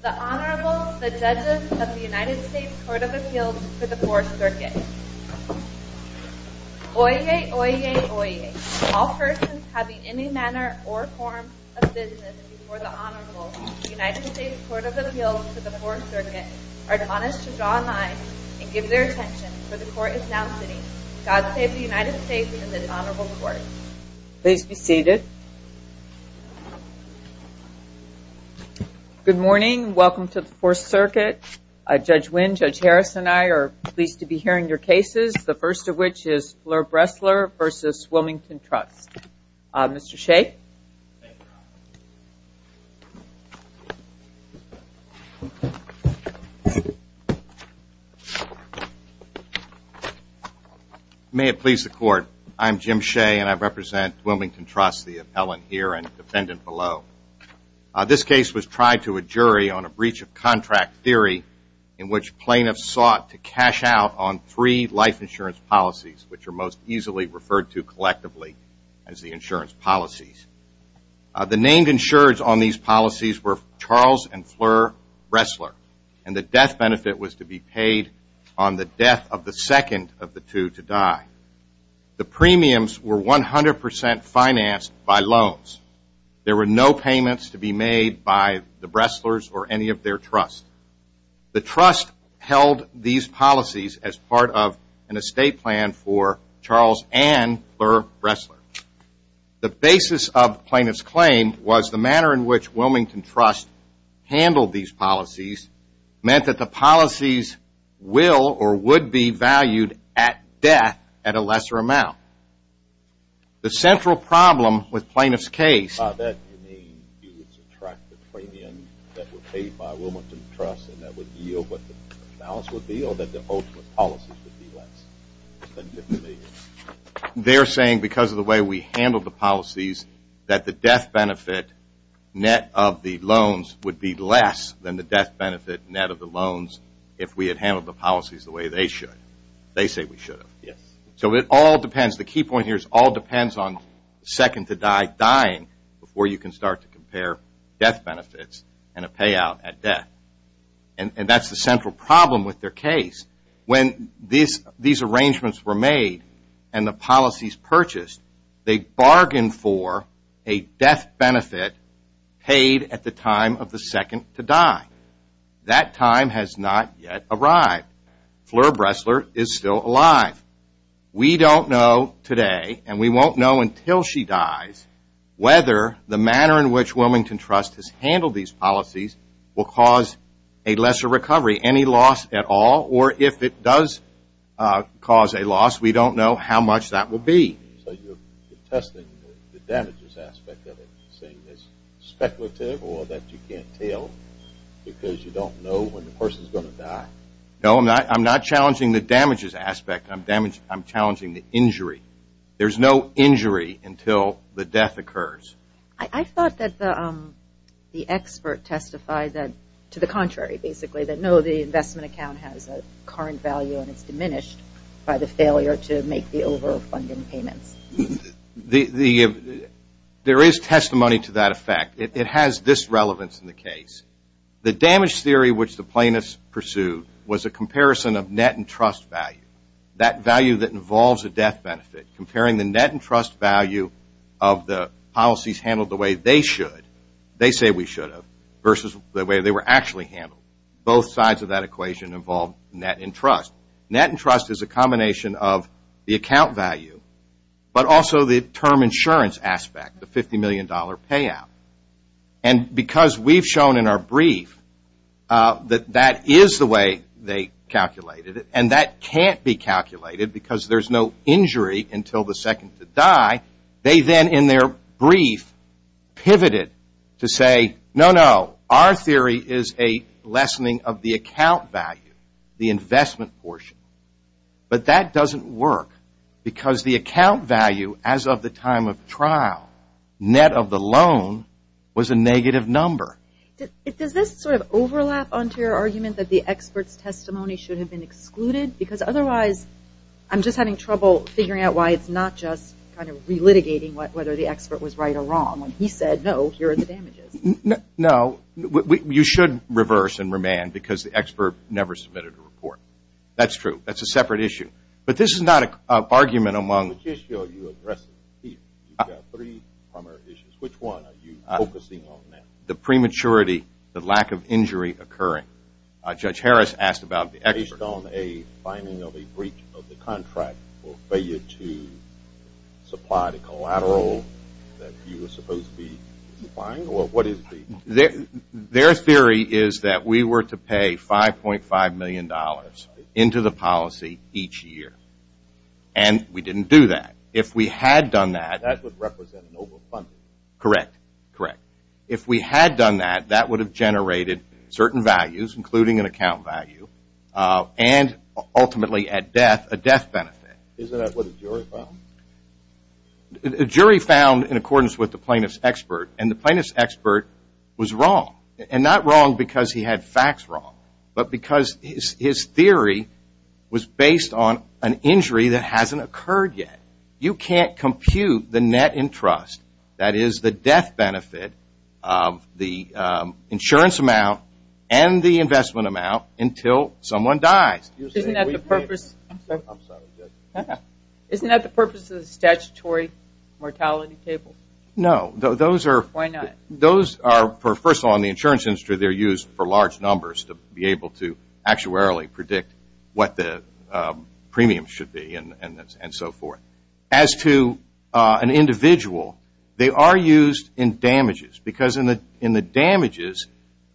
The Honorable, the Judges of the United States Court of Appeals for the 4th Circuit Oyez, oyez, oyez. All persons having any manner or form of business before the Honorable, the United States Court of Appeals for the 4th Circuit, are admonished to draw a line and give their attention, for the Court is now sitting. God save the United States and this Honorable Court. Please be seated. Good morning. Welcome to the 4th Circuit. Judge Wynn, Judge Harris, and I are pleased to be hearing your cases, the first of which is Fleur Bresler v. Wilmington Trust. Mr. Shea. May it please the Court. I am Jim Shea and I represent Wilmington Trust, the appellant here and defendant below. This case was tried to a jury on a breach of contract theory in which plaintiffs sought to cash out on three life insurance policies, which are most easily referred to collectively as the insurance policies. The named insureds on these policies were Charles and Fleur Bresler and the death benefit was to be paid on the death of the second of the two to die. The premiums were 100% financed by loans. There were no payments to be made by the Breslers or any of their trusts. The trust held these policies as part of an estate plan for Charles and Fleur Bresler. The basis of plaintiff's claim was the manner in which Wilmington Trust handled these policies meant that the policies will or would be valued at death at a lesser amount. The central problem with plaintiff's case. By that you mean you would subtract the premiums that were paid by Wilmington Trust and that would yield what the balance would be or that the ultimate policies would be less than $50 million? They're saying because of the way we handled the policies that the death benefit net of the loans would be less than the death benefit net of the loans if we had handled the policies the way they should. They say we should have. Yes. So it all depends. The key point here is it all depends on second to die dying before you can start to compare death benefits and a payout at death. And that's the central problem with their case. When these arrangements were made and the policies purchased, they bargained for a death benefit paid at the time of the second to die. That time has not yet arrived. Fleur Bresler is still alive. We don't know today and we won't know until she dies whether the manner in which Wilmington Trust has handled these policies will cause a lesser recovery, any loss at all. Or if it does cause a loss, we don't know how much that will be. So you're testing the damages aspect of it, saying it's speculative or that you can't tell because you don't know when the person is going to die? No, I'm not challenging the damages aspect. I'm challenging the injury. There's no injury until the death occurs. I thought that the expert testified that to the contrary, basically, that no, the investment account has a current value and it's diminished by the failure to make the overall funding payments. There is testimony to that effect. It has this relevance in the case. The damage theory which the plaintiffs pursued was a comparison of net and trust value, that value that involves a death benefit, comparing the net and trust value of the policies handled the way they should, they say we should have, versus the way they were actually handled. Both sides of that equation involved net and trust. Net and trust is a combination of the account value but also the term insurance aspect, the $50 million payout. And because we've shown in our brief that that is the way they calculated it and that can't be calculated because there's no injury until the second to die, they then in their brief pivoted to say no, no, our theory is a lessening of the account value, the investment portion. But that doesn't work because the account value as of the time of trial, net of the loan, was a negative number. Does this sort of overlap onto your argument that the expert's testimony should have been excluded? Because otherwise I'm just having trouble figuring out why it's not just kind of re-litigating whether the expert was right or wrong when he said no, here are the damages. No, you should reverse and remand because the expert never submitted a report. That's true. That's a separate issue. But this is not an argument among. Which issue are you addressing here? You've got three primary issues. Which one are you focusing on now? The prematurity, the lack of injury occurring. Judge Harris asked about the expert. Based on a finding of a breach of the contract or failure to supply the collateral that you were supposed to be supplying? Their theory is that we were to pay $5.5 million into the policy each year. And we didn't do that. If we had done that. That would represent an over-funding. Correct. Correct. If we had done that, that would have generated certain values, including an account value, and ultimately at death, a death benefit. Is that what the jury found? The jury found, in accordance with the plaintiff's expert, and the plaintiff's expert was wrong. And not wrong because he had facts wrong, but because his theory was based on an injury that hasn't occurred yet. You can't compute the net in trust, that is, the death benefit of the insurance amount and the investment amount until someone dies. Isn't that the purpose? I'm sorry, Judge. Isn't that the purpose of the statutory mortality table? No. Why not? First of all, in the insurance industry, they're used for large numbers to be able to actuarially predict what the premium should be and so forth. As to an individual, they are used in damages because in the damages,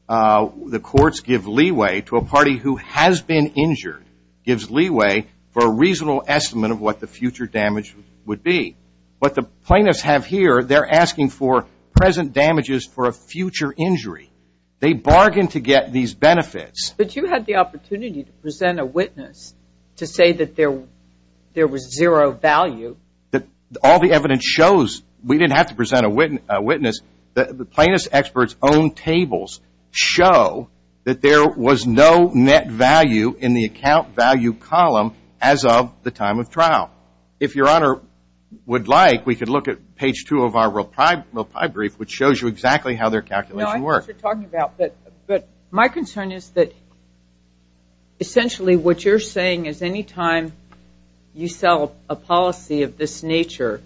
the courts give leeway to a party who has been injured, gives leeway for a reasonable estimate of what the future damage would be. What the plaintiffs have here, they're asking for present damages for a future injury. They bargain to get these benefits. But you had the opportunity to present a witness to say that there was zero value. All the evidence shows we didn't have to present a witness. The plaintiffs' experts' own tables show that there was no net value in the account value column as of the time of trial. If Your Honor would like, we could look at page two of our reply brief, which shows you exactly how their calculations work. But my concern is that essentially what you're saying is anytime you sell a policy of this nature,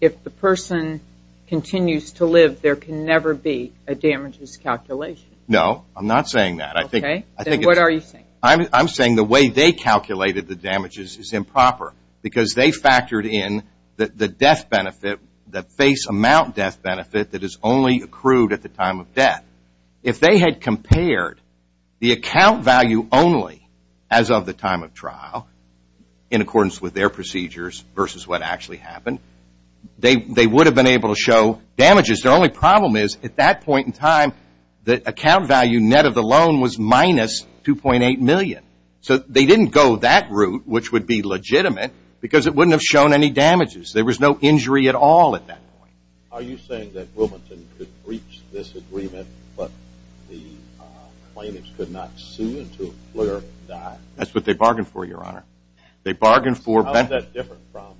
if the person continues to live, there can never be a damages calculation. No, I'm not saying that. Okay. Then what are you saying? I'm saying the way they calculated the damages is improper because they factored in the death benefit, the face amount death benefit that is only accrued at the time of death. If they had compared the account value only as of the time of trial in accordance with their procedures versus what actually happened, they would have been able to show damages. Their only problem is at that point in time, the account value net of the loan was minus 2.8 million. So they didn't go that route, which would be legitimate, because it wouldn't have shown any damages. There was no injury at all at that point. Are you saying that Wilmington could breach this agreement, but the plaintiffs could not sue until a clerk died? That's what they bargained for, Your Honor. They bargained for benefits. How is that different from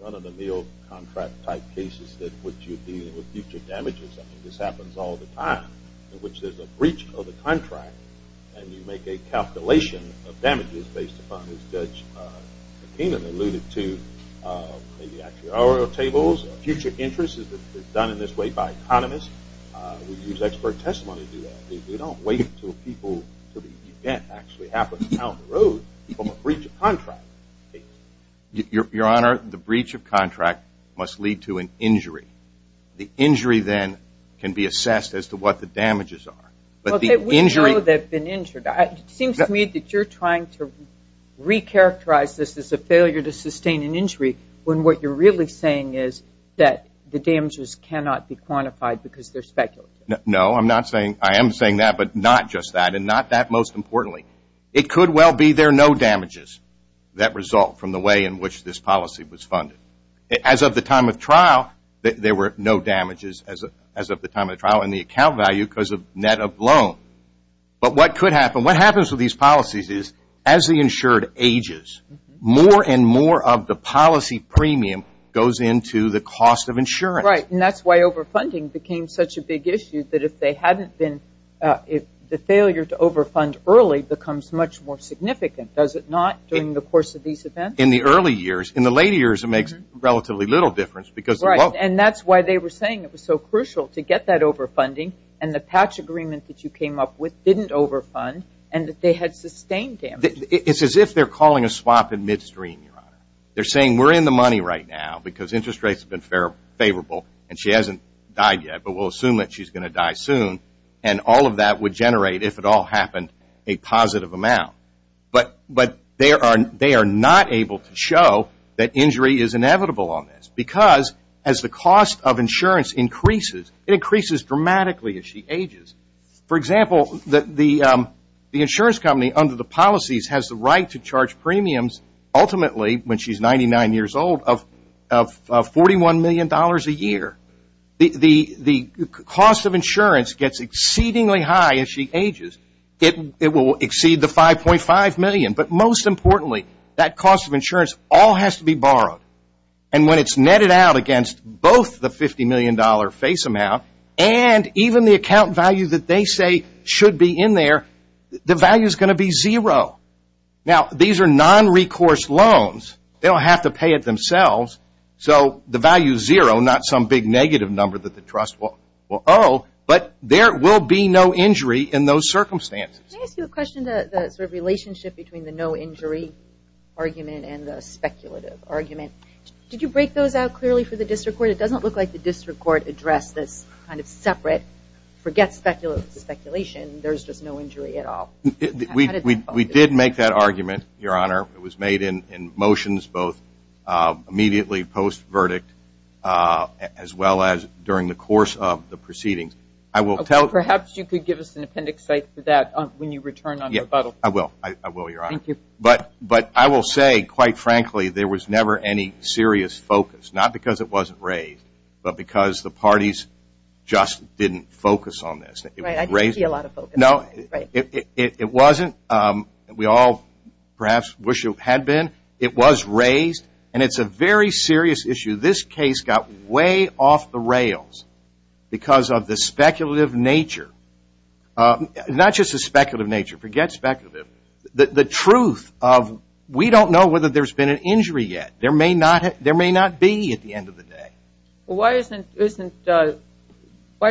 run-of-the-mill contract-type cases that would you deal with future damages? I mean, this happens all the time, in which there's a breach of the contract, and you make a calculation of damages based upon, as Judge McKeenan alluded to, maybe actuarial tables, future interests. It's done in this way by economists. We use expert testimony to do that. We don't wait until people to the event actually happen down the road from a breach of contract case. Your Honor, the breach of contract must lead to an injury. The injury then can be assessed as to what the damages are. We know they've been injured. It seems to me that you're trying to recharacterize this as a failure to sustain an injury when what you're really saying is that the damages cannot be quantified because they're speculative. No, I am saying that, but not just that, and not that most importantly. It could well be there are no damages that result from the way in which this policy was funded. As of the time of trial, there were no damages as of the time of trial, and the account value because of net up loan. But what could happen, what happens with these policies is as the insured ages, more and more of the policy premium goes into the cost of insurance. Right, and that's why overfunding became such a big issue, that if they hadn't been, the failure to overfund early becomes much more significant, does it not, during the course of these events? In the early years. In the late years, it makes relatively little difference because of both. And that's why they were saying it was so crucial to get that overfunding, and the patch agreement that you came up with didn't overfund, and that they had sustained damages. It's as if they're calling a swap in midstream, Your Honor. They're saying we're in the money right now because interest rates have been favorable, and she hasn't died yet, but we'll assume that she's going to die soon, and all of that would generate, if it all happened, a positive amount. But they are not able to show that injury is inevitable on this because as the cost of insurance increases, it increases dramatically as she ages. For example, the insurance company under the policies has the right to charge premiums, ultimately, when she's 99 years old, of $41 million a year. The cost of insurance gets exceedingly high as she ages. It will exceed the $5.5 million, but most importantly, that cost of insurance all has to be borrowed. And when it's netted out against both the $50 million face amount and even the account value that they say should be in there, the value is going to be zero. Now, these are non-recourse loans. They'll have to pay it themselves. So the value is zero, not some big negative number that the trust will owe, but there will be no injury in those circumstances. Can I ask you a question? The sort of relationship between the no injury argument and the speculative argument, did you break those out clearly for the district court? It doesn't look like the district court addressed this kind of separate, forget speculation, there's just no injury at all. We did make that argument, Your Honor. It was made in motions both immediately post-verdict as well as during the course of the proceedings. Perhaps you could give us an appendix cite for that when you return on rebuttal. I will, Your Honor. Thank you. But I will say, quite frankly, there was never any serious focus, not because it wasn't raised, but because the parties just didn't focus on this. Right, I didn't see a lot of focus. No, it wasn't. We all perhaps wish it had been. It was raised, and it's a very serious issue. This case got way off the rails because of the speculative nature, not just the speculative nature, forget speculative, the truth of we don't know whether there's been an injury yet. There may not be at the end of the day. Why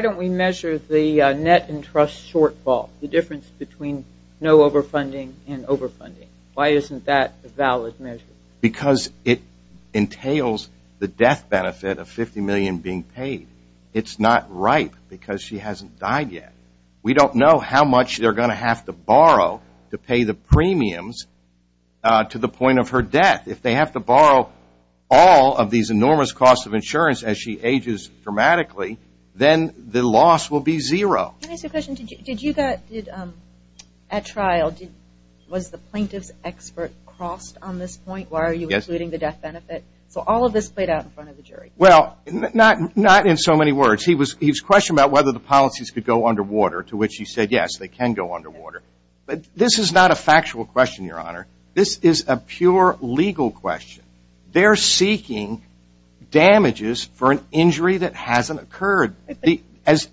don't we measure the net and trust shortfall, the difference between no overfunding and overfunding? Why isn't that a valid measure? Because it entails the death benefit of $50 million being paid. It's not ripe because she hasn't died yet. We don't know how much they're going to have to borrow to pay the premiums to the point of her death. If they have to borrow all of these enormous costs of insurance as she ages dramatically, then the loss will be zero. Can I ask you a question? At trial, was the plaintiff's expert crossed on this point? Why are you including the death benefit? So all of this played out in front of the jury. Well, not in so many words. He was questioned about whether the policies could go underwater, to which he said, yes, they can go underwater. But this is not a factual question, Your Honor. This is a pure legal question. They're seeking damages for an injury that hasn't occurred. As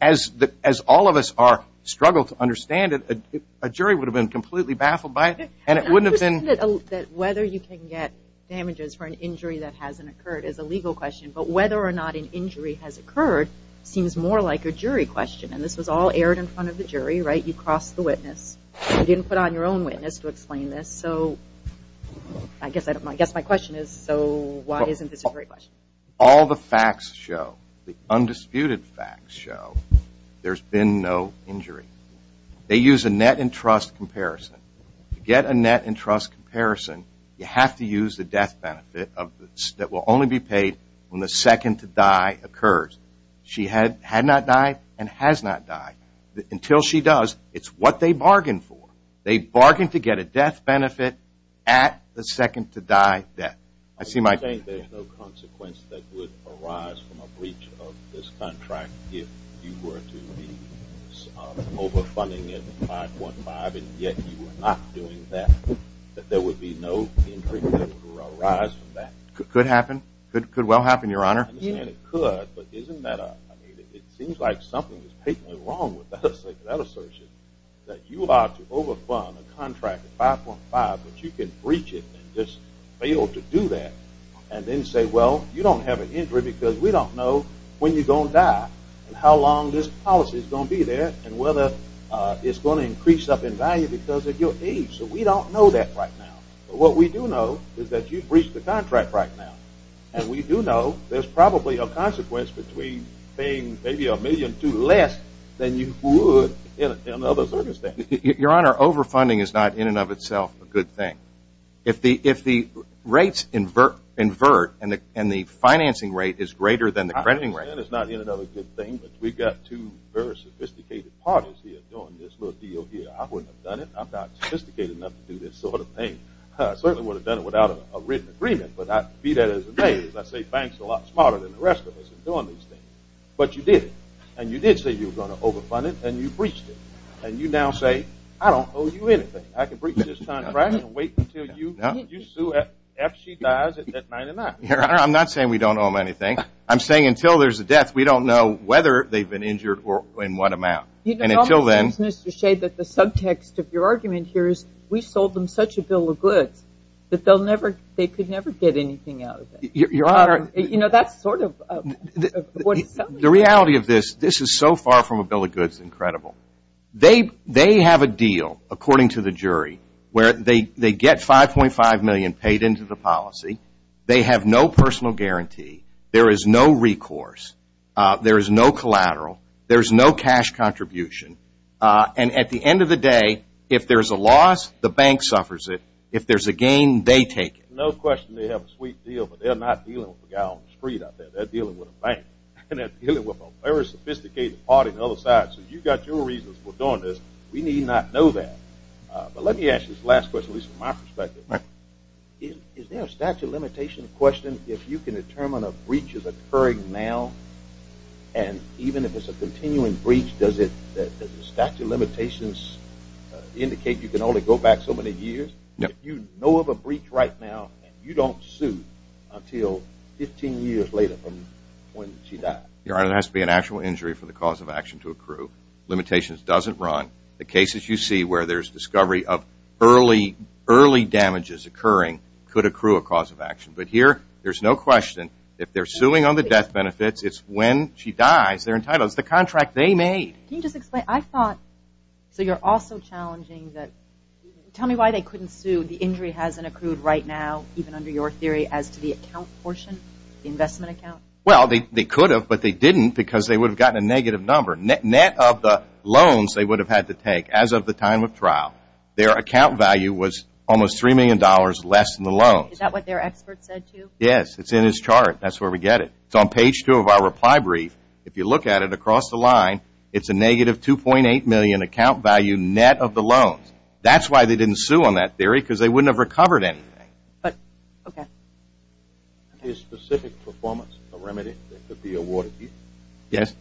all of us struggle to understand it, a jury would have been completely baffled by it, and it wouldn't have been. I'm just saying that whether you can get damages for an injury that hasn't occurred is a legal question, but whether or not an injury has occurred seems more like a jury question. And this was all aired in front of the jury, right? You crossed the witness. You didn't put on your own witness to explain this. So I guess my question is, so why isn't this a jury question? All the facts show, the undisputed facts show, there's been no injury. They use a net-in-trust comparison. To get a net-in-trust comparison, you have to use the death benefit that will only be paid when the second to die occurs. She had not died and has not died. Until she does, it's what they bargained for. They bargained to get a death benefit at the second-to-die death. You're saying there's no consequence that would arise from a breach of this contract if you were to be overfunding at 5.5 and yet you were not doing that, that there would be no injury that would arise from that? Could happen. Could well happen, Your Honor. And it could, but isn't that a – it seems like something is patently wrong with that assertion, that you are to overfund a contract at 5.5 but you can breach it and just fail to do that and then say, well, you don't have an injury because we don't know when you're going to die and how long this policy is going to be there and whether it's going to increase up in value because of your age. So we don't know that right now. But what we do know is that you breached the contract right now. And we do know there's probably a consequence between paying maybe a million to less than you would in another circumstance. Your Honor, overfunding is not in and of itself a good thing. If the rates invert and the financing rate is greater than the crediting rate. Overfunding is not in and of itself a good thing. But we've got two very sophisticated parties here doing this little deal here. I wouldn't have done it. I'm not sophisticated enough to do this sort of thing. I certainly would have done it without a written agreement. But to be fair, as I say, banks are a lot smarter than the rest of us in doing these things. But you did it. And you did say you were going to overfund it and you breached it. And you now say, I don't owe you anything. I can breach this contract and wait until you sue her after she dies at 99. Your Honor, I'm not saying we don't owe them anything. I'm saying until there's a death, we don't know whether they've been injured or in what amount. And until then. You know, it almost seems, Mr. Shade, that the subtext of your argument here is we sold them such a bill of goods that they could never get anything out of it. Your Honor. You know, that's sort of what it sounds like. The reality of this, this is so far from a bill of goods incredible. They have a deal, according to the jury, where they get $5.5 million paid into the policy. They have no personal guarantee. There is no recourse. There is no collateral. There is no cash contribution. And at the end of the day, if there's a loss, the bank suffers it. If there's a gain, they take it. No question they have a sweet deal, but they're not dealing with a guy on the street out there. They're dealing with a bank. And they're dealing with a very sophisticated party on the other side. So you've got your reasons for doing this. We need not know that. But let me ask this last question, at least from my perspective. Is there a statute of limitations question if you can determine a breach is occurring now? And even if it's a continuing breach, does the statute of limitations indicate you can only go back so many years? If you know of a breach right now and you don't sue until 15 years later from when she died? Your Honor, it has to be an actual injury for the cause of action to accrue. Limitations doesn't run. The cases you see where there's discovery of early damages occurring could accrue a cause of action. But here, there's no question. If they're suing on the death benefits, it's when she dies they're entitled. It's the contract they made. Can you just explain? So you're also challenging that. Tell me why they couldn't sue. The injury hasn't accrued right now, even under your theory, as to the account portion, the investment account? Well, they could have, but they didn't because they would have gotten a negative number. Net of the loans they would have had to take as of the time of trial, their account value was almost $3 million less than the loans. Is that what their expert said to you? Yes. It's in his chart. That's where we get it. It's on page two of our reply brief. If you look at it across the line, it's a negative $2.8 million account value net of the loans. That's why they didn't sue on that theory because they wouldn't have recovered anything. Okay. Is specific performance a remedy that could be awarded to you? Yes.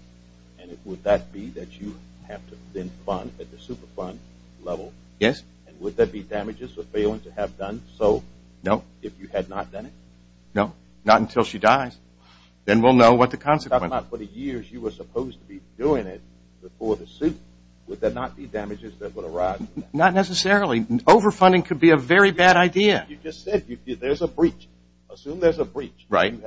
And would that be that you have to then fund at the super fund level? Yes. And would that be damages for failing to have done so? No. If you had not done it? No. Not until she dies. Then we'll know what the consequence is. For the years you were supposed to be doing it before the suit, would that not be damages that would arise? Not necessarily. Overfunding could be a very bad idea. You just said there's a breach. Assume there's a breach. Right.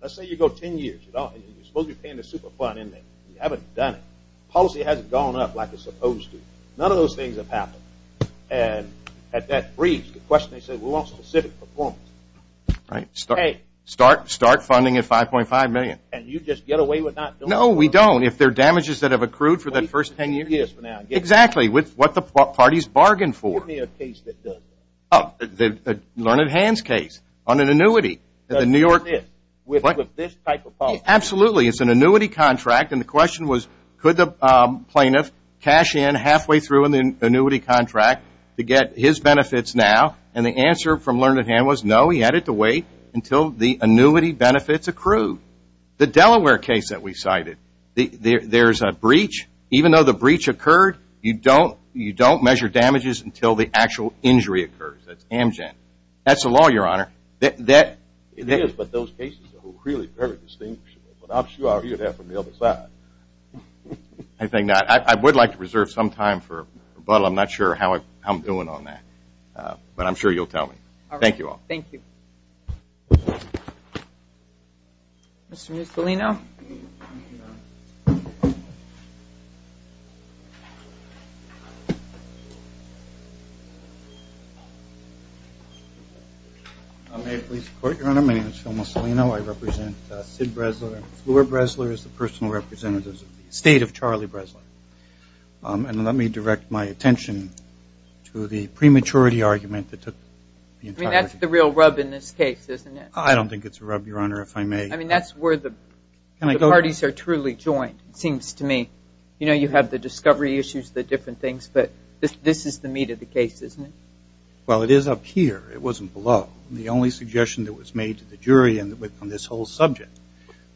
Let's say you go 10 years. You're supposed to be paying the super fund and you haven't done it. Policy hasn't gone up like it's supposed to. None of those things have happened. And at that breach, the question they said, we want specific performance. Right. Start funding at $5.5 million. And you just get away with not doing it? No, we don't. If they're damages that have accrued for that first 10 years? Yes, for now. Exactly. With what the parties bargained for. Give me a case that does that. The Learned Hands case on an annuity. That's it. With this type of policy? Absolutely. It's an annuity contract. And the question was, could the plaintiff cash in halfway through in the annuity contract to get his benefits now? And the answer from Learned Hand was no. He had to wait until the annuity benefits accrued. The Delaware case that we cited, there's a breach. Even though the breach occurred, you don't measure damages until the actual injury occurs. That's Amgen. That's the law, Your Honor. It is, but those cases are really very distinguishable. But I'm sure I'll hear that from the other side. I would like to reserve some time for rebuttal. I'm not sure how I'm doing on that. But I'm sure you'll tell me. Thank you all. Thank you. Mr. Mussolino? May it please the Court, Your Honor? My name is Phil Mussolino. I represent Sid Bresler. Fleur Bresler is the personal representative of the estate of Charlie Bresler. And let me direct my attention to the prematurity argument that took the entirety. I mean, that's the real rub in this case, isn't it? I don't think it's a rub, Your Honor, if I may. I mean, that's where the parties are truly joined, it seems to me. You know, you have the discovery issues, the different things. But this is the meat of the case, isn't it? Well, it is up here. It wasn't below. The only suggestion that was made to the jury on this whole subject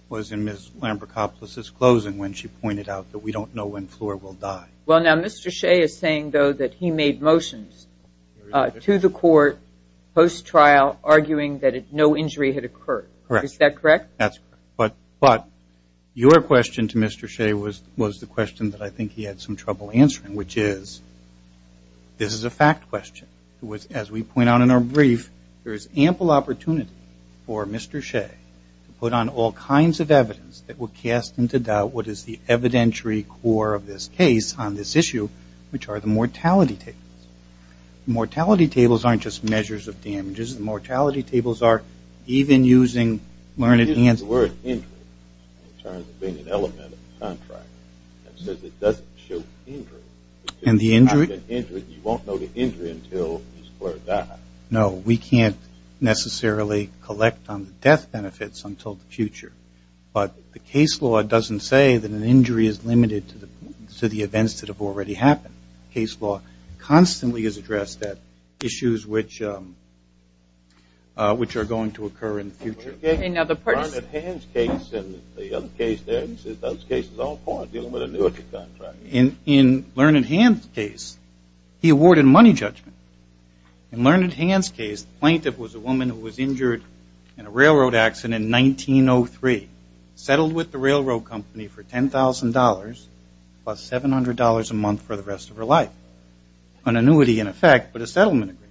was in Ms. Amber Coppolis' closing when she pointed out that we don't know when Fleur will die. Well, now, Mr. Shea is saying, though, that he made motions to the Court post-trial arguing that no injury had occurred. Correct. Is that correct? That's correct. But your question to Mr. Shea was the question that I think he had some trouble answering, which is this is a fact question. As we point out in our brief, there is ample opportunity for Mr. Shea to put on all kinds of evidence that will cast into doubt what is the evidentiary core of this case on this issue, which are the mortality tables. The mortality tables aren't just measures of damages. The mortality tables are even using learned answers. It uses the word injury in terms of being an element of the contract. It says it doesn't show injury. And the injury? You won't know the injury until Ms. Fleur dies. No, we can't necessarily collect on the death benefits until the future. But the case law doesn't say that an injury is limited to the events that have already happened. Case law constantly is addressed at issues which are going to occur in the future. In Lerned Hand's case and the other case there, he says those cases are all poor, dealing with a newer contract. In Lerned Hand's case, he awarded money judgment. In Lerned Hand's case, the plaintiff was a woman who was injured in a railroad accident in 1903, settled with the railroad company for $10,000 plus $700 a month for the rest of her life. An annuity in effect, but a settlement agreement.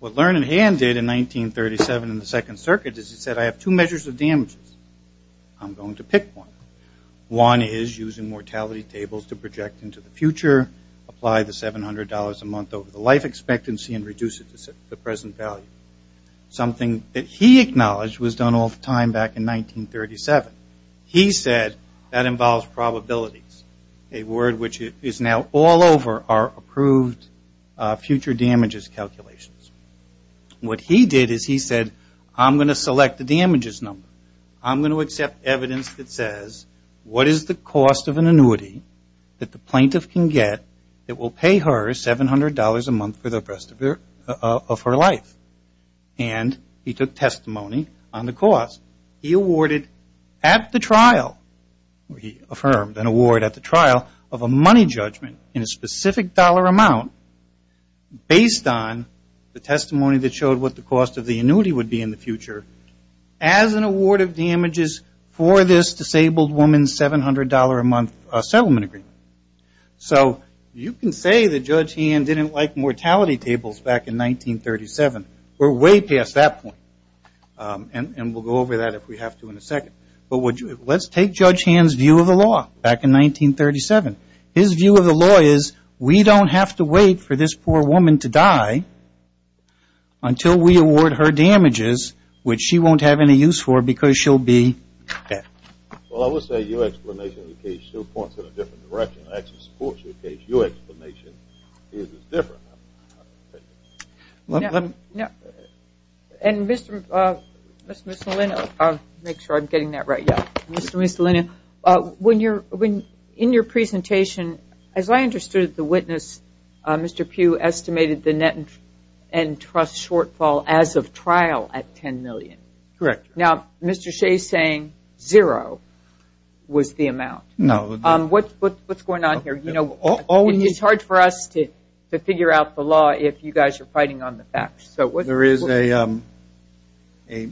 What Lerned Hand did in 1937 in the Second Circuit is he said, I have two measures of damages. I'm going to pick one. One is using mortality tables to project into the future, apply the $700 a month over the life expectancy and reduce it to the present value. Something that he acknowledged was done all the time back in 1937. He said that involves probabilities, a word which is now all over our approved future damages calculations. What he did is he said, I'm going to select the damages number. I'm going to accept evidence that says, what is the cost of an annuity that the plaintiff can get that will pay her $700 a month for the rest of her life? And he took testimony on the cost. He awarded at the trial, he affirmed an award at the trial, of a money judgment in a specific dollar amount based on the testimony that showed what the cost of the annuity would be in the future. As an award of damages for this disabled woman's $700 a month settlement agreement. So you can say that Judge Hand didn't like mortality tables back in 1937. We're way past that point. And we'll go over that if we have to in a second. But let's take Judge Hand's view of the law back in 1937. His view of the law is, we don't have to wait for this poor woman to die until we award her damages, which she won't have any use for because she'll be dead. Well, I will say your explanation of the case points in a different direction. I actually support your case. Your explanation is different. And Mr. Malino, I'll make sure I'm getting that right. Mr. Malino, in your presentation, as I understood the witness, Mr. Pugh estimated the net and trust shortfall as of trial at $10 million. Correct. Now, Mr. Shea is saying zero was the amount. No. What's going on here? It's hard for us to figure out the law if you guys are fighting on the facts. There is a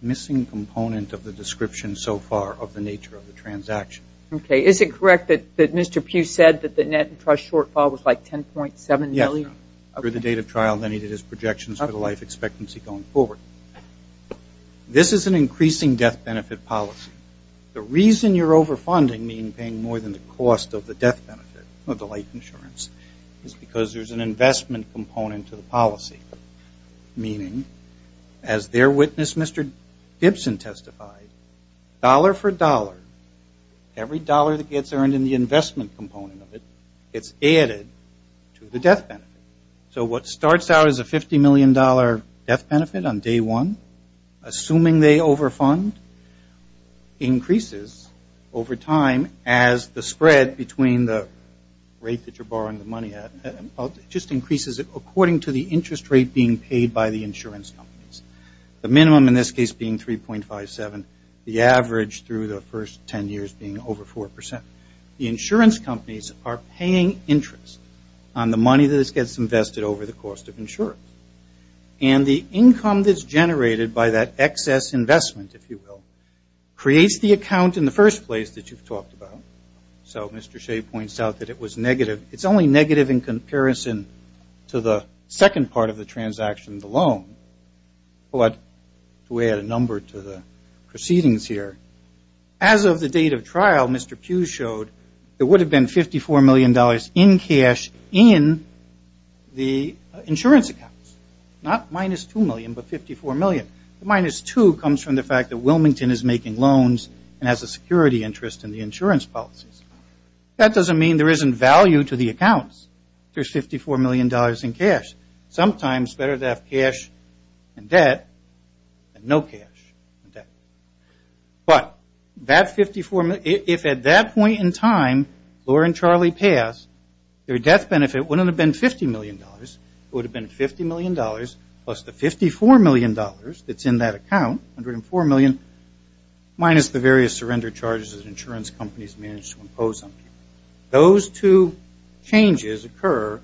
missing component of the description so far of the nature of the transaction. Okay. Is it correct that Mr. Pugh said that the net and trust shortfall was like $10.7 million? Yes. After the date of trial, then he did his projections for the life expectancy going forward. This is an increasing death benefit policy. The reason you're overfunding, meaning paying more than the cost of the death benefit, of the life insurance, is because there's an investment component to the policy, meaning, as their witness, Mr. Gibson, testified, dollar for dollar, every dollar that gets earned in the investment component of it gets added to the death benefit. So what starts out as a $50 million death benefit on day one, assuming they overfund, increases over time as the spread between the rate that you're borrowing the money at, just increases according to the interest rate being paid by the insurance companies, the minimum in this case being 3.57, the average through the first 10 years being over 4%. The insurance companies are paying interest on the money that gets invested over the cost of insurance. And the income that's generated by that excess investment, if you will, creates the account in the first place that you've talked about. So Mr. Shea points out that it was negative. It's only negative in comparison to the second part of the transaction, the loan. But to add a number to the proceedings here, as of the date of trial, Mr. Pugh showed there would have been $54 million in cash in the insurance accounts. Not minus 2 million, but 54 million. The minus 2 comes from the fact that Wilmington is making loans and has a security interest in the insurance policies. That doesn't mean there isn't value to the accounts. There's $54 million in cash. Sometimes better to have cash in debt than no cash in debt. But if at that point in time Laura and Charlie pass, their death benefit wouldn't have been $50 million. It would have been $50 million plus the $54 million that's in that account, minus the various surrender charges that insurance companies manage to impose on people. Those two changes occur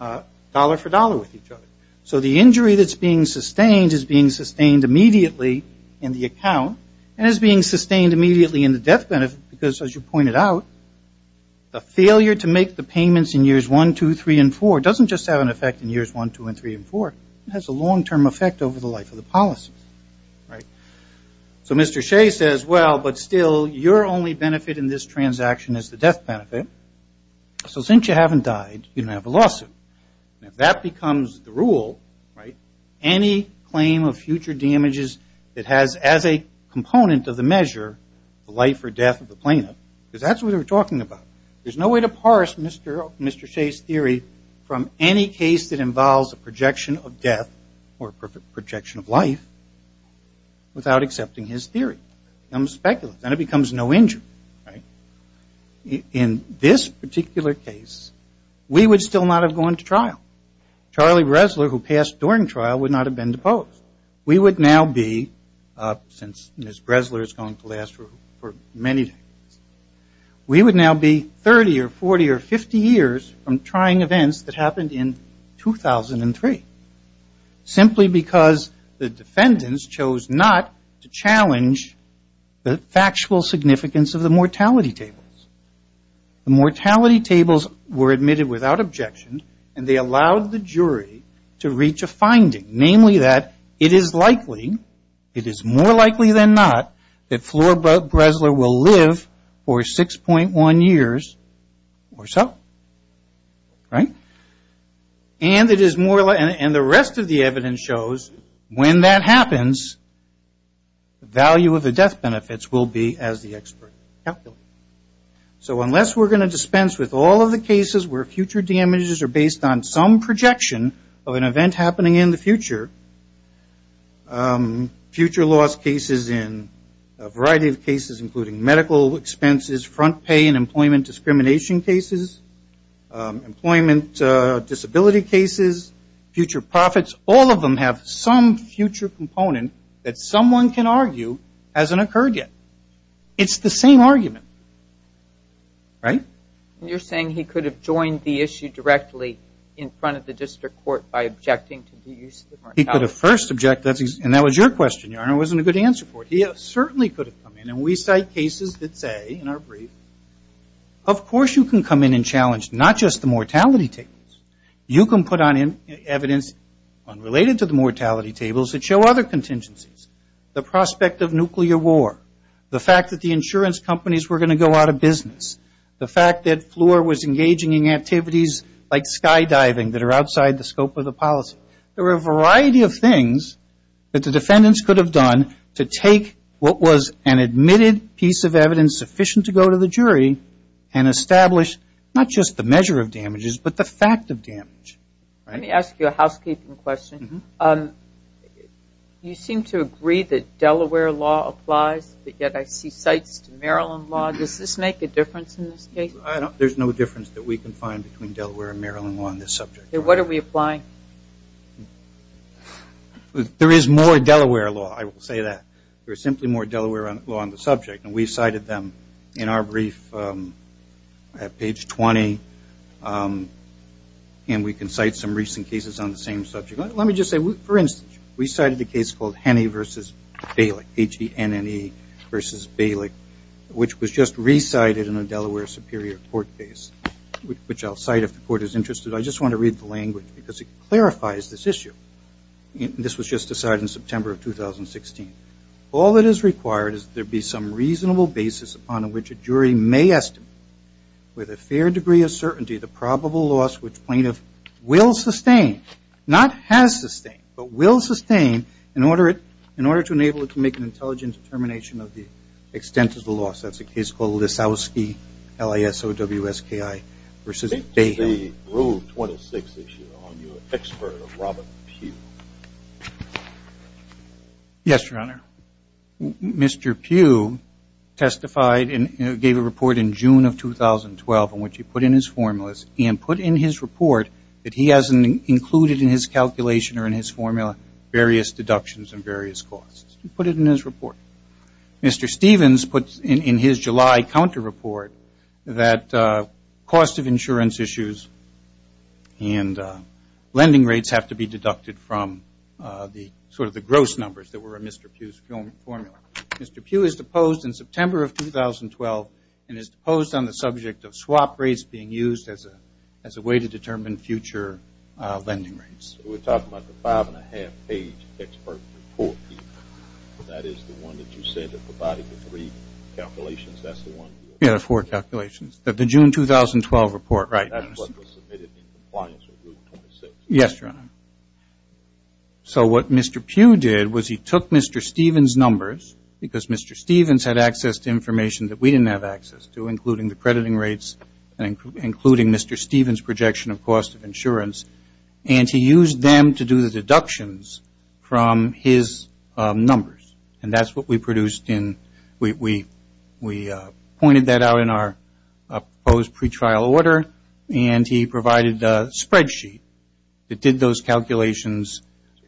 dollar for dollar with each other. So the injury that's being sustained is being sustained immediately in the account and is being sustained immediately in the death benefit because, as you pointed out, the failure to make the payments in years one, two, three, and four doesn't just have an effect in years one, two, three, and four. It has a long-term effect over the life of the policy. So Mr. Shea says, well, but still, your only benefit in this transaction is the death benefit. So since you haven't died, you don't have a lawsuit. If that becomes the rule, any claim of future damages that has, as a component of the measure, the life or death of the plaintiff, because that's what we're talking about, there's no way to parse Mr. Shea's theory from any case that involves a projection of death or a projection of life without accepting his theory. It becomes speculative and it becomes no injury. In this particular case, we would still not have gone to trial. Charlie Bresler, who passed during trial, would not have been deposed. We would now be, since Ms. Bresler is going to last for many decades, we would now be 30 or 40 or 50 years from trying events that happened in 2003, simply because the defendants chose not to challenge the factual significance of the mortality tables. The mortality tables were admitted without objection, and they allowed the jury to reach a finding, namely that it is likely, it is more likely than not, that Flora Bresler will live for 6.1 years or so. And the rest of the evidence shows when that happens, the value of the death benefits will be as the expert calculated. So unless we're going to dispense with all of the cases where future damages are based on some projection of an event happening in the future, future loss cases in a variety of cases, including medical expenses, front pay and employment discrimination cases, employment disability cases, future profits, all of them have some future component that someone can argue hasn't occurred yet. It's the same argument. Right? You're saying he could have joined the issue directly in front of the district court by objecting to the use of the mortality table? He could have first objected, and that was your question, Your Honor. It wasn't a good answer for it. He certainly could have come in, and we cite cases that say, in our brief, of course you can come in and challenge not just the mortality tables. You can put on evidence unrelated to the mortality tables that show other contingencies, the prospect of nuclear war, the fact that the insurance companies were going to go out of business, the fact that Floor was engaging in activities like skydiving that are outside the scope of the policy. There were a variety of things that the defendants could have done to take what was an admitted piece of evidence sufficient to go to the jury and establish not just the measure of damages but the fact of damage. Let me ask you a housekeeping question. You seem to agree that Delaware law applies, but yet I see cites to Maryland law. Does this make a difference in this case? There's no difference that we can find between Delaware and Maryland law on this subject. Then what are we applying? There is more Delaware law, I will say that. There is simply more Delaware law on the subject, and we cited them in our brief at page 20, and we can cite some recent cases on the same subject. Let me just say, for instance, we cited a case called Henney v. Bailick, H-E-N-N-E v. Bailick, which was just recited in a Delaware Superior Court case, which I'll cite if the court is interested. I just want to read the language because it clarifies this issue. This was just decided in September of 2016. All that is required is that there be some reasonable basis upon which a jury may estimate with a fair degree of certainty the probable loss which plaintiff will sustain, not has sustained, but will sustain in order to enable it to make an intelligent determination of the extent of the loss. That's a case called Lisowski, L-I-S-O-W-S-K-I v. Bailick. I think there's a Rule 26 issue on your expert, Robert Pugh. Yes, Your Honor. Mr. Pugh testified and gave a report in June of 2012 in which he put in his formulas and put in his report that he hasn't included in his calculation or in his formula various deductions and various costs. He put it in his report. Mr. Stevens put in his July counter report that cost of insurance issues and lending rates have to be deducted from sort of the gross numbers that were in Mr. Pugh's formula. Mr. Pugh is deposed in September of 2012 and is deposed on the subject of swap rates being used as a way to determine future lending rates. We're talking about the five-and-a-half-page expert report, Peter? That is the one that you said that provided the three calculations? That's the one? Yeah, the four calculations. The June 2012 report, right. That's what was submitted in compliance with Rule 26? Yes, Your Honor. So what Mr. Pugh did was he took Mr. Stevens' numbers, because Mr. Stevens had access to information that we didn't have access to, including the crediting rates and including Mr. Stevens' projection of cost of insurance, and he used them to do the deductions from his numbers. And that's what we produced in we pointed that out in our proposed pretrial order, and he provided a spreadsheet that did those calculations.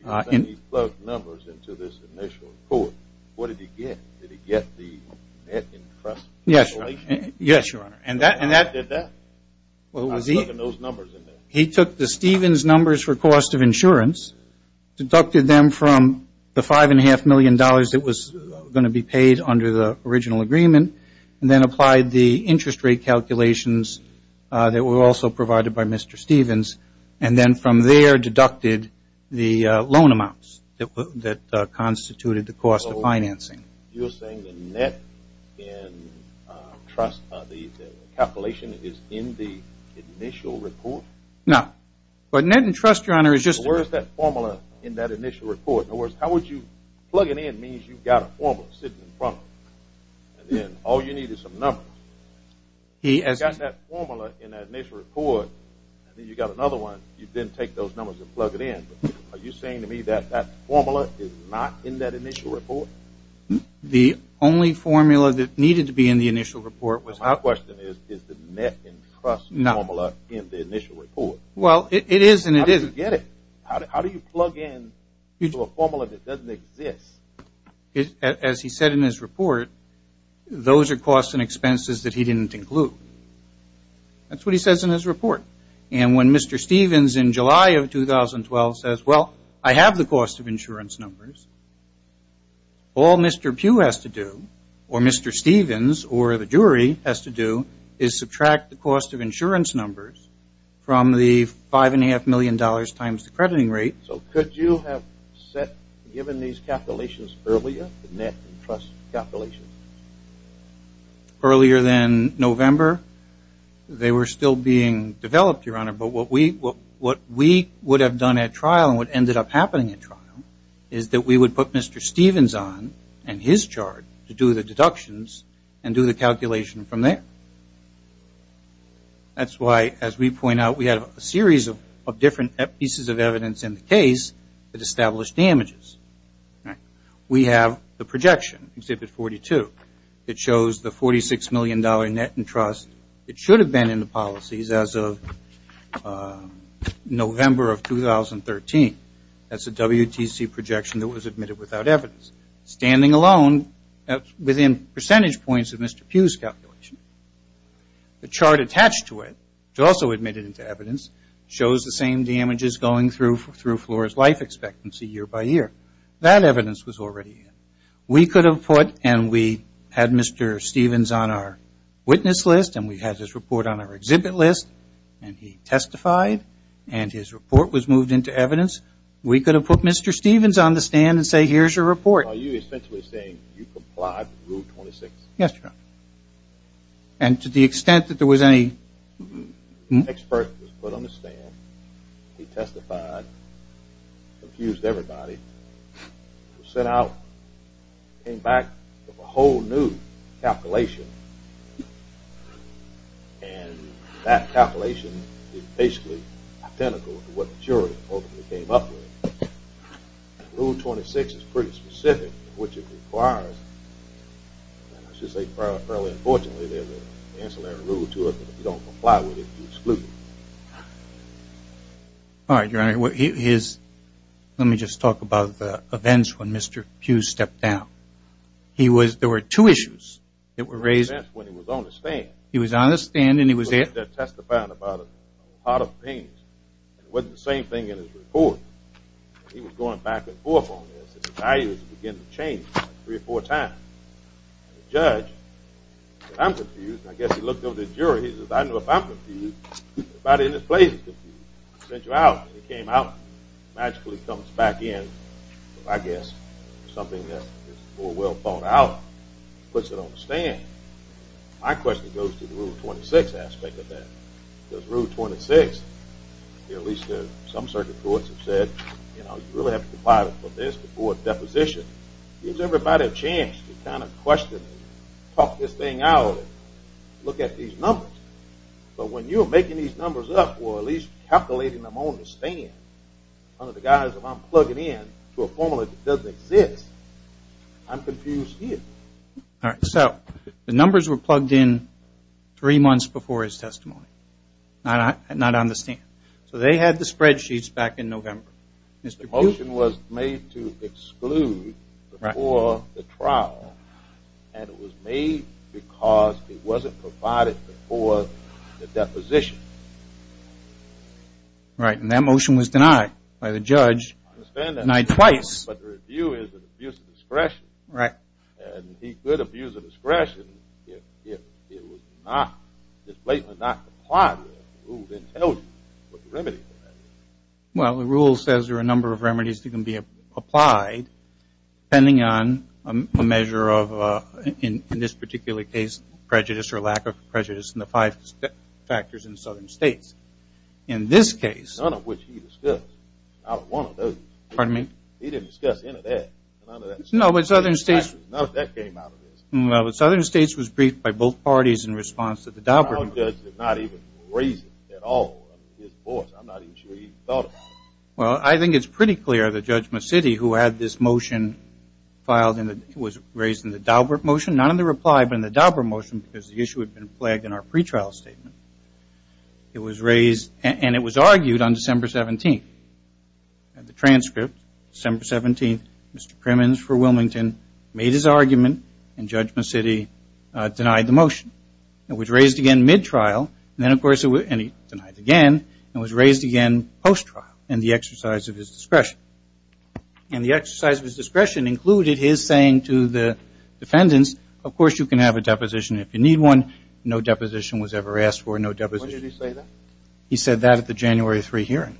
So he plugged numbers into this initial report. What did he get? Did he get the net interest? Yes, Your Honor. And that did that? I'm plugging those numbers in there. He took the Stevens' numbers for cost of insurance, deducted them from the five-and-a-half million dollars that was going to be paid under the original agreement, and then applied the interest rate calculations that were also provided by Mr. Stevens, and then from there deducted the loan amounts that constituted the cost of financing. So you're saying the net in trust, the calculation is in the initial report? But net in trust, Your Honor, is just the formula in that initial report. In other words, how would you plug it in? It means you've got a formula sitting in front of you, and then all you need is some numbers. You've got that formula in that initial report, and then you've got another one. You didn't take those numbers and plug it in. Are you saying to me that that formula is not in that initial report? The only formula that needed to be in the initial report was that. My question is, is the net in trust formula in the initial report? Well, it is and it isn't. How did you get it? It's a formula that doesn't exist. As he said in his report, those are costs and expenses that he didn't include. That's what he says in his report. And when Mr. Stevens in July of 2012 says, well, I have the cost of insurance numbers, all Mr. Pugh has to do or Mr. Stevens or the jury has to do is subtract the cost of insurance numbers from the $5.5 million times the crediting rate. So could you have given these calculations earlier, the net in trust calculations? Earlier than November, they were still being developed, Your Honor, but what we would have done at trial and what ended up happening at trial is that we would put Mr. Stevens on and his charge to do the deductions and do the calculation from there. That's why, as we point out, we have a series of different pieces of evidence in the case that establish damages. We have the projection, Exhibit 42. It shows the $46 million net in trust. It should have been in the policies as of November of 2013. That's a WTC projection that was admitted without evidence. Standing alone within percentage points of Mr. Pugh's calculation. The chart attached to it, which also admitted into evidence, shows the same damages going through Flora's life expectancy year by year. That evidence was already in. We could have put and we had Mr. Stevens on our witness list and we had his report on our exhibit list and he testified and his report was moved into evidence. We could have put Mr. Stevens on the stand and said here's your report. Are you essentially saying you complied with Rule 26? Yes, Your Honor. And to the extent that there was any... An expert was put on the stand, he testified, confused everybody, was sent out, came back with a whole new calculation and that calculation is basically identical to what the jury ultimately came up with. Rule 26 is pretty specific in which it requires, and I should say fairly unfortunately, there's an ancillary rule to it that if you don't comply with it, you exclude it. All right, Your Honor. Let me just talk about the events when Mr. Pugh stepped down. There were two issues that were raised. There were two events when he was on the stand. He was on the stand and he was there. He was there testifying about a lot of things. It wasn't the same thing in his report. He was going back and forth on this. His values began to change three or four times. The judge said, I'm confused. I guess he looked over at the jury. He said, I don't know if I'm confused. Everybody in this place is confused. They sent you out and you came out. It magically comes back in. I guess it's something that is more well thought out. Puts it on the stand. My question goes to the Rule 26 aspect of that. Because Rule 26, at least some circuit courts have said, you really have to comply with this before a deposition. Gives everybody a chance to kind of question and talk this thing out and look at these numbers. But when you're making these numbers up, or at least calculating them on the stand, under the guise of I'm plugging in to a formula that doesn't exist, I'm confused here. So the numbers were plugged in three months before his testimony. Not on the stand. So they had the spreadsheets back in November. The motion was made to exclude before the trial, and it was made because it wasn't provided before the deposition. Right, and that motion was denied by the judge. Denied twice. But the review is an abuse of discretion. Right. And he could abuse of discretion if it was not, if Blatant did not comply with the Rules and tell you what the remedy was. Well, the Rules says there are a number of remedies that can be applied, depending on a measure of, in this particular case, prejudice or lack of prejudice in the five factors in southern states. In this case. None of which he discussed. Not one of those. Pardon me? He didn't discuss any of that. None of that. No, but southern states. None of that came out of this. No, but southern states was briefed by both parties in response to the Daubert. The trial judge did not even raise it at all. I mean, his voice, I'm not even sure he even thought about it. Well, I think it's pretty clear that Judge Macitti, who had this motion filed and was raised in the Daubert motion, not in the reply, but in the Daubert motion, because the issue had been plagued in our pretrial statement. It was raised and it was argued on December 17th. The transcript, December 17th, Mr. Crimmins for Wilmington made his argument and Judge Macitti denied the motion. It was raised again mid-trial and then, of course, it was denied again. It was raised again post-trial in the exercise of his discretion. And the exercise of his discretion included his saying to the defendants, of course, you can have a deposition if you need one. No deposition was ever asked for. What did he say then? He said that at the January 3 hearing.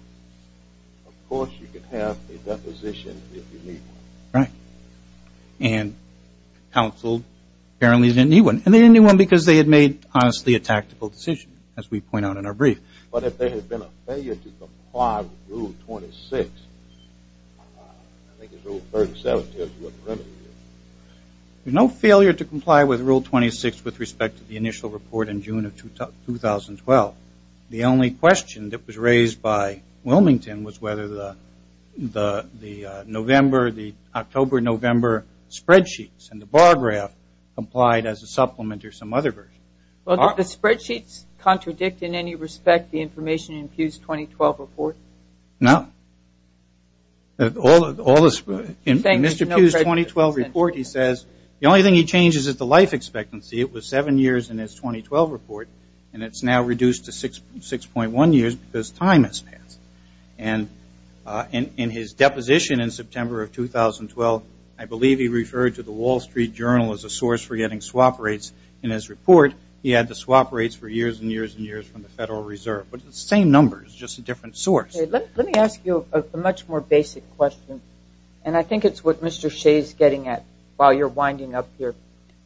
Of course, you can have a deposition if you need one. Right. And counsel apparently didn't need one. And they didn't need one because they had made, honestly, a tactical decision, as we point out in our brief. But if there had been a failure to comply with Rule 26, I think it's Rule 37, tells you what the remedy is. No failure to comply with Rule 26 with respect to the initial report in June of 2012. The only question that was raised by Wilmington was whether the October-November spreadsheets and the bar graph applied as a supplement or some other version. Well, did the spreadsheets contradict in any respect the information in Pew's 2012 report? No. In Mr. Pew's 2012 report, he says the only thing he changes is the life expectancy. It was seven years in his 2012 report, and it's now reduced to 6.1 years because time has passed. And in his deposition in September of 2012, I believe he referred to the Wall Street Journal as a source for getting swap rates. In his report, he had the swap rates for years and years and years from the Federal Reserve. But it's the same numbers, just a different source. Let me ask you a much more basic question, and I think it's what Mr. Shea is getting at while you're winding up here.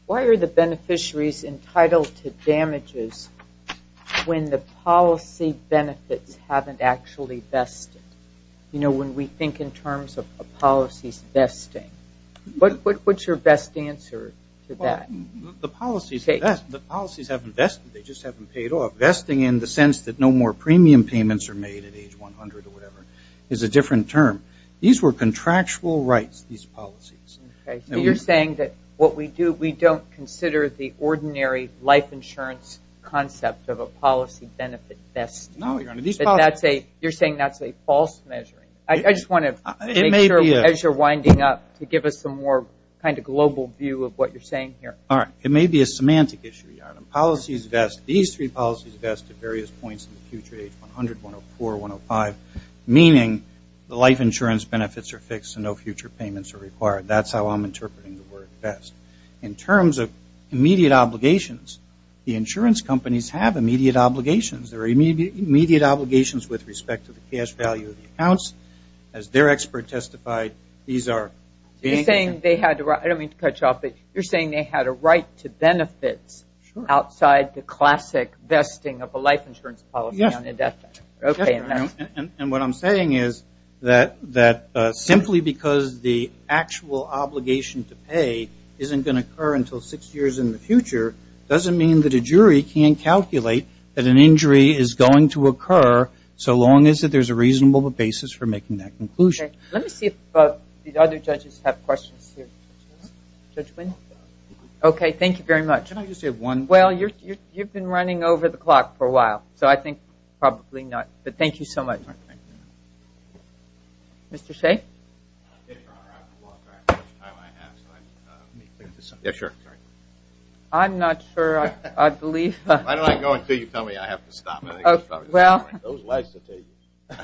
Why are the beneficiaries entitled to damages when the policy benefits haven't actually vested? You know, when we think in terms of policies vesting. What's your best answer to that? The policies haven't vested. They just haven't paid off. Vesting in the sense that no more premium payments are made at age 100 or whatever is a different term. These were contractual rights, these policies. You're saying that what we do, we don't consider the ordinary life insurance concept of a policy benefit vesting. No, Your Honor. You're saying that's a false measure. I just want to make sure as you're winding up to give us a more kind of global view of what you're saying here. All right. It may be a semantic issue, Your Honor. These three policies vest at various points in the future, age 100, 104, 105, meaning the life insurance benefits are fixed and no future payments are required. That's how I'm interpreting the word vest. In terms of immediate obligations, the insurance companies have immediate obligations. There are immediate obligations with respect to the cash value of the accounts. As their expert testified, these are being- You're saying they had to-I don't mean to cut you off, but you're saying they had a right to benefits outside the classic vesting of a life insurance policy. Yes. Okay. And what I'm saying is that simply because the actual obligation to pay isn't going to occur until six years in the future doesn't mean that a jury can't calculate that an injury is going to occur so long as there's a reasonable basis for making that conclusion. Okay. Let me see if the other judges have questions here. Judge Wynn. Okay. Thank you very much. Can I just say one- Well, you've been running over the clock for a while. So I think probably not. But thank you so much. Mr. Shea. Yes, Your Honor. I've lost track of how much time I have, so let me think of something. Yeah, sure. I'm not sure. I believe- Why don't I go until you tell me I have to stop? Well- Those lights will tell you.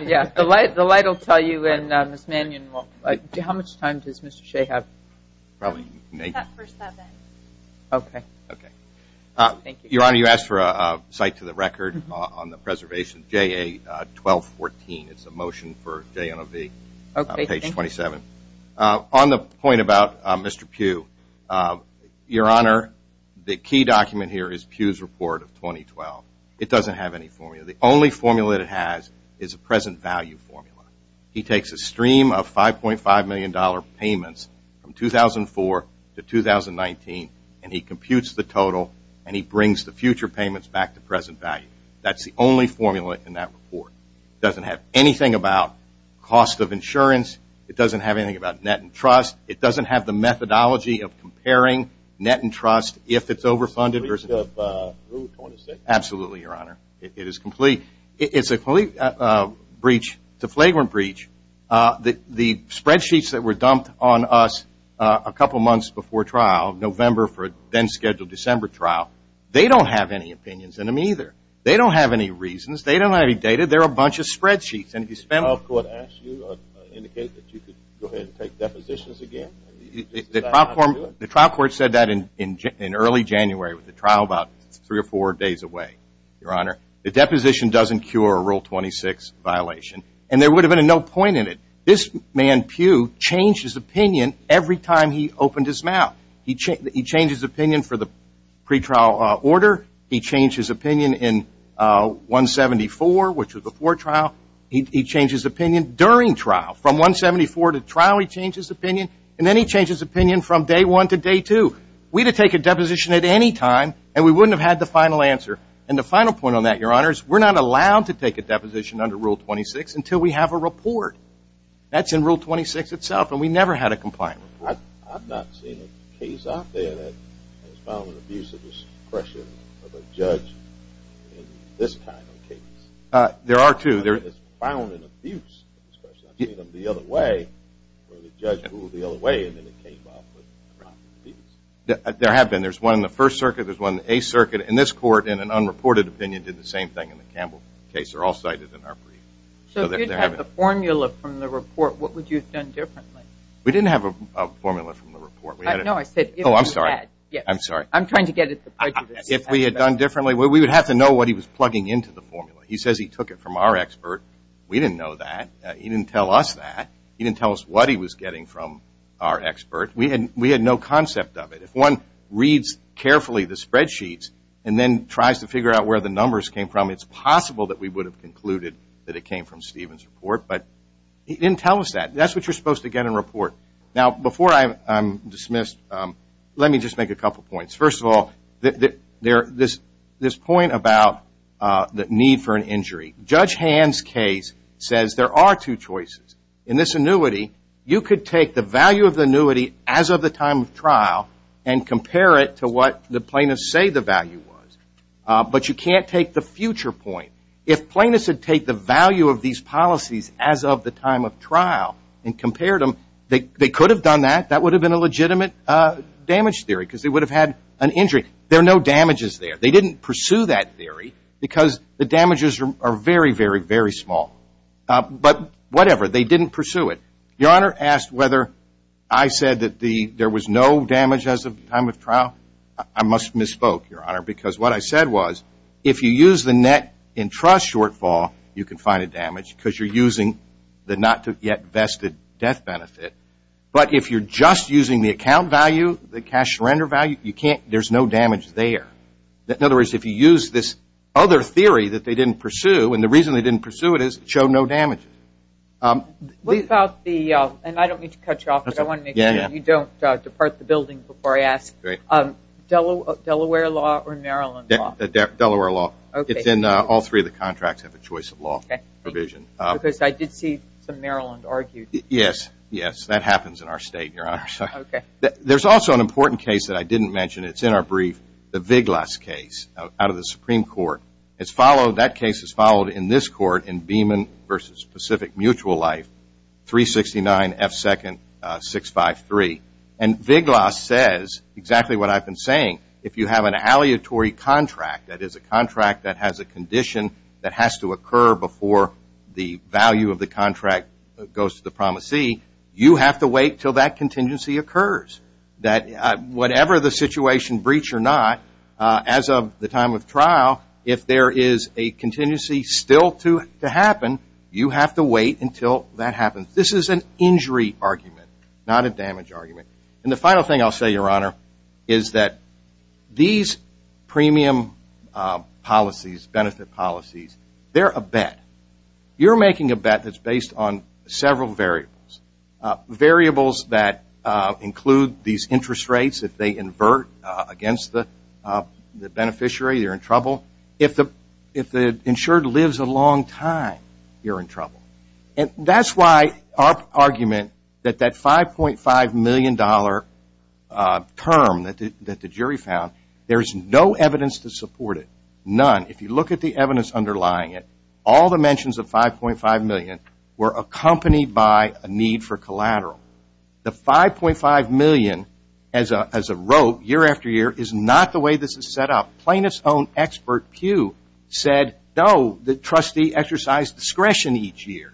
Yeah. The light will tell you, and Ms. Mannion won't. How much time does Mr. Shea have? Probably- He's got for seven. Okay. Okay. Thank you. Well, you asked for a cite to the record on the preservation, JA-1214. It's a motion for JNOV, page 27. Okay. Thank you. On the point about Mr. Pugh, Your Honor, the key document here is Pugh's report of 2012. It doesn't have any formula. The only formula that it has is a present value formula. He takes a stream of $5.5 million payments from 2004 to 2019, and he computes the total, and he brings the future payments back to present value. That's the only formula in that report. It doesn't have anything about cost of insurance. It doesn't have anything about net and trust. It doesn't have the methodology of comparing net and trust if it's overfunded. It's a complete breach of rule 26. Absolutely, Your Honor. It is complete. It's a complete breach, the flagrant breach. The spreadsheets that were dumped on us a couple months before trial, November for a then-scheduled December trial, they don't have any opinions in them either. They don't have any reasons. They don't have any data. They're a bunch of spreadsheets. Did the trial court ask you or indicate that you could go ahead and take depositions again? The trial court said that in early January with the trial about three or four days away, Your Honor. The deposition doesn't cure a rule 26 violation. And there would have been a no point in it. This man, Pew, changed his opinion every time he opened his mouth. He changed his opinion for the pretrial order. He changed his opinion in 174, which was before trial. He changed his opinion during trial. From 174 to trial, he changed his opinion. And then he changed his opinion from day one to day two. We could take a deposition at any time, and we wouldn't have had the final answer. And the final point on that, Your Honor, is we're not allowed to take a deposition under Rule 26 until we have a report. That's in Rule 26 itself, and we never had a compliant. I've not seen a case out there that has found an abuse of discretion of a judge in this kind of case. There are two. I haven't found an abuse of discretion. I've seen them the other way where the judge ruled the other way and then it came up. There have been. There's one in the First Circuit. There's one in the Eighth Circuit. And this court, in an unreported opinion, did the same thing in the Campbell case. They're all cited in our brief. So if you'd had the formula from the report, what would you have done differently? We didn't have a formula from the report. No, I said if we had. Oh, I'm sorry. I'm sorry. I'm trying to get at the prejudice. If we had done differently, we would have to know what he was plugging into the formula. He says he took it from our expert. We didn't know that. He didn't tell us that. He didn't tell us what he was getting from our expert. We had no concept of it. If one reads carefully the spreadsheets and then tries to figure out where the numbers came from, it's possible that we would have concluded that it came from Stephen's report. But he didn't tell us that. That's what you're supposed to get in a report. Now, before I'm dismissed, let me just make a couple points. First of all, this point about the need for an injury, Judge Hand's case says there are two choices. In this annuity, you could take the value of the annuity as of the time of trial and compare it to what the plaintiffs say the value was. But you can't take the future point. If plaintiffs had taken the value of these policies as of the time of trial and compared them, they could have done that. That would have been a legitimate damage theory because they would have had an injury. There are no damages there. They didn't pursue that theory because the damages are very, very, very small. But whatever, they didn't pursue it. Your Honor asked whether I said that there was no damage as of the time of trial. I must have misspoke, Your Honor, because what I said was if you use the net in trust shortfall, you can find a damage because you're using the not yet vested death benefit. But if you're just using the account value, the cash surrender value, there's no damage there. In other words, if you use this other theory that they didn't pursue, and the reason they didn't pursue it is it showed no damages. What about the, and I don't mean to cut you off, but I want to make sure you don't depart the building before I ask, Delaware law or Maryland law? Delaware law. It's in all three of the contracts have a choice of law provision. Because I did see some Maryland argued. Yes, yes. That happens in our state, Your Honor. There's also an important case that I didn't mention. It's in our brief, the Viglas case out of the Supreme Court. It's followed, that case is followed in this court in Beeman versus Pacific Mutual Life, 369F2nd653. And Viglas says exactly what I've been saying. If you have an aleatory contract, that is a contract that has a condition that has to occur before the value of the contract goes to the promisee, you have to wait until that contingency occurs. That whatever the situation, breach or not, as of the time of trial, if there is a contingency still to happen, you have to wait until that happens. This is an injury argument, not a damage argument. And the final thing I'll say, Your Honor, is that these premium policies, benefit policies, they're a bet. You're making a bet that's based on several variables. Variables that include these interest rates, if they invert against the beneficiary, you're in trouble. If the insured lives a long time, you're in trouble. And that's why our argument that that $5.5 million term that the jury found, there's no evidence to support it, none. If you look at the evidence underlying it, all the mentions of $5.5 million were accompanied by a need for collateral. The $5.5 million as a rope, year after year, is not the way this is set up. Plaintiff's own expert, Pew, said, no, the trustee exercised discretion each year.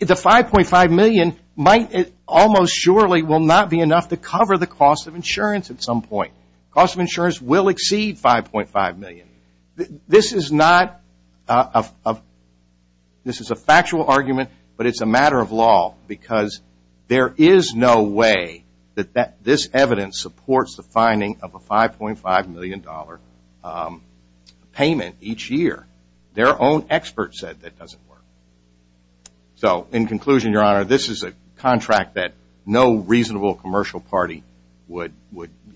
The $5.5 million might almost surely will not be enough to cover the cost of insurance at some point. Cost of insurance will exceed $5.5 million. This is not a, this is a factual argument, but it's a matter of law, because there is no way that this evidence supports the finding of a $5.5 million payment each year. Their own expert said that doesn't work. So, in conclusion, Your Honor, this is a contract that no reasonable commercial party would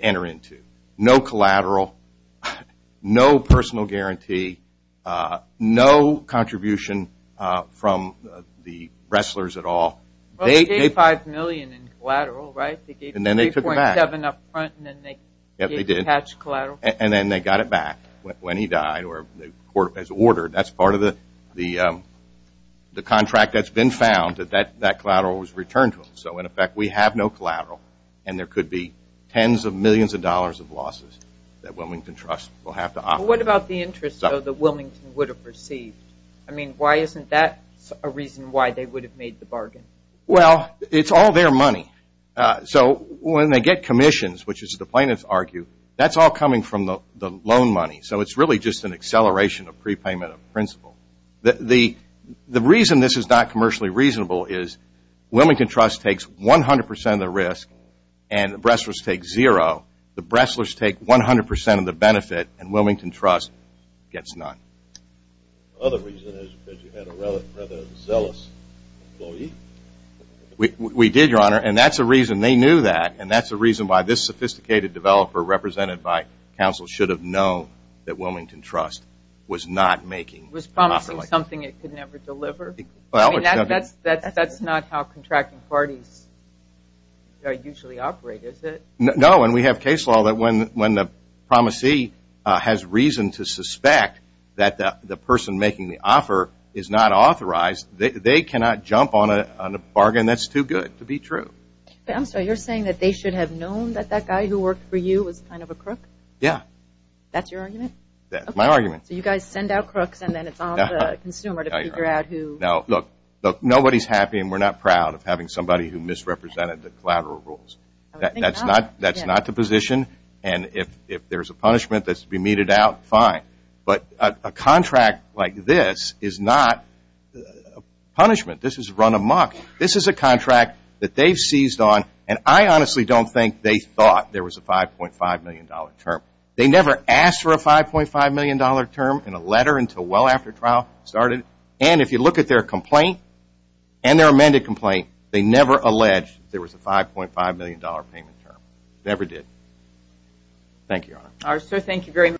enter into. No collateral, no personal guarantee, no contribution from the wrestlers at all. Well, they gave $5 million in collateral, right? And then they took it back. They gave $3.7 up front and then they gave the patch collateral. And then they got it back when he died or as ordered. That's part of the contract that's been found, that that collateral was returned to them. So, in effect, we have no collateral, and there could be tens of millions of dollars of losses that Wilmington Trust will have to offer. What about the interest, though, that Wilmington would have received? I mean, why isn't that a reason why they would have made the bargain? Well, it's all their money. So, when they get commissions, which is what the plaintiffs argue, that's all coming from the loan money. So, it's really just an acceleration of prepayment of principal. The reason this is not commercially reasonable is Wilmington Trust takes 100% of the risk and the wrestlers take zero. The wrestlers take 100% of the benefit and Wilmington Trust gets none. Another reason is that you had a rather zealous employee. We did, Your Honor, and that's a reason they knew that, and that's a reason why this sophisticated developer represented by counsel should have known that Wilmington Trust was not making the offer like this. Was promising something it could never deliver? I mean, that's not how contracting parties usually operate, is it? No, and we have case law that when the promisee has reason to suspect that the person making the offer is not authorized, they cannot jump on a bargain that's too good to be true. I'm sorry. You're saying that they should have known that that guy who worked for you was kind of a crook? Yeah. That's your argument? That's my argument. So, you guys send out crooks and then it's on the consumer to figure out who? No. Look, nobody's happy and we're not proud of having somebody who misrepresented the collateral rules. That's not the position, and if there's a punishment that's to be meted out, fine. But a contract like this is not a punishment. This is run amok. This is a contract that they've seized on, and I honestly don't think they thought there was a $5.5 million term. They never asked for a $5.5 million term in a letter until well after trial started, and if you look at their complaint and their amended complaint, they never alleged there was a $5.5 million payment term. Never did. Thank you, Your Honor. All right, sir.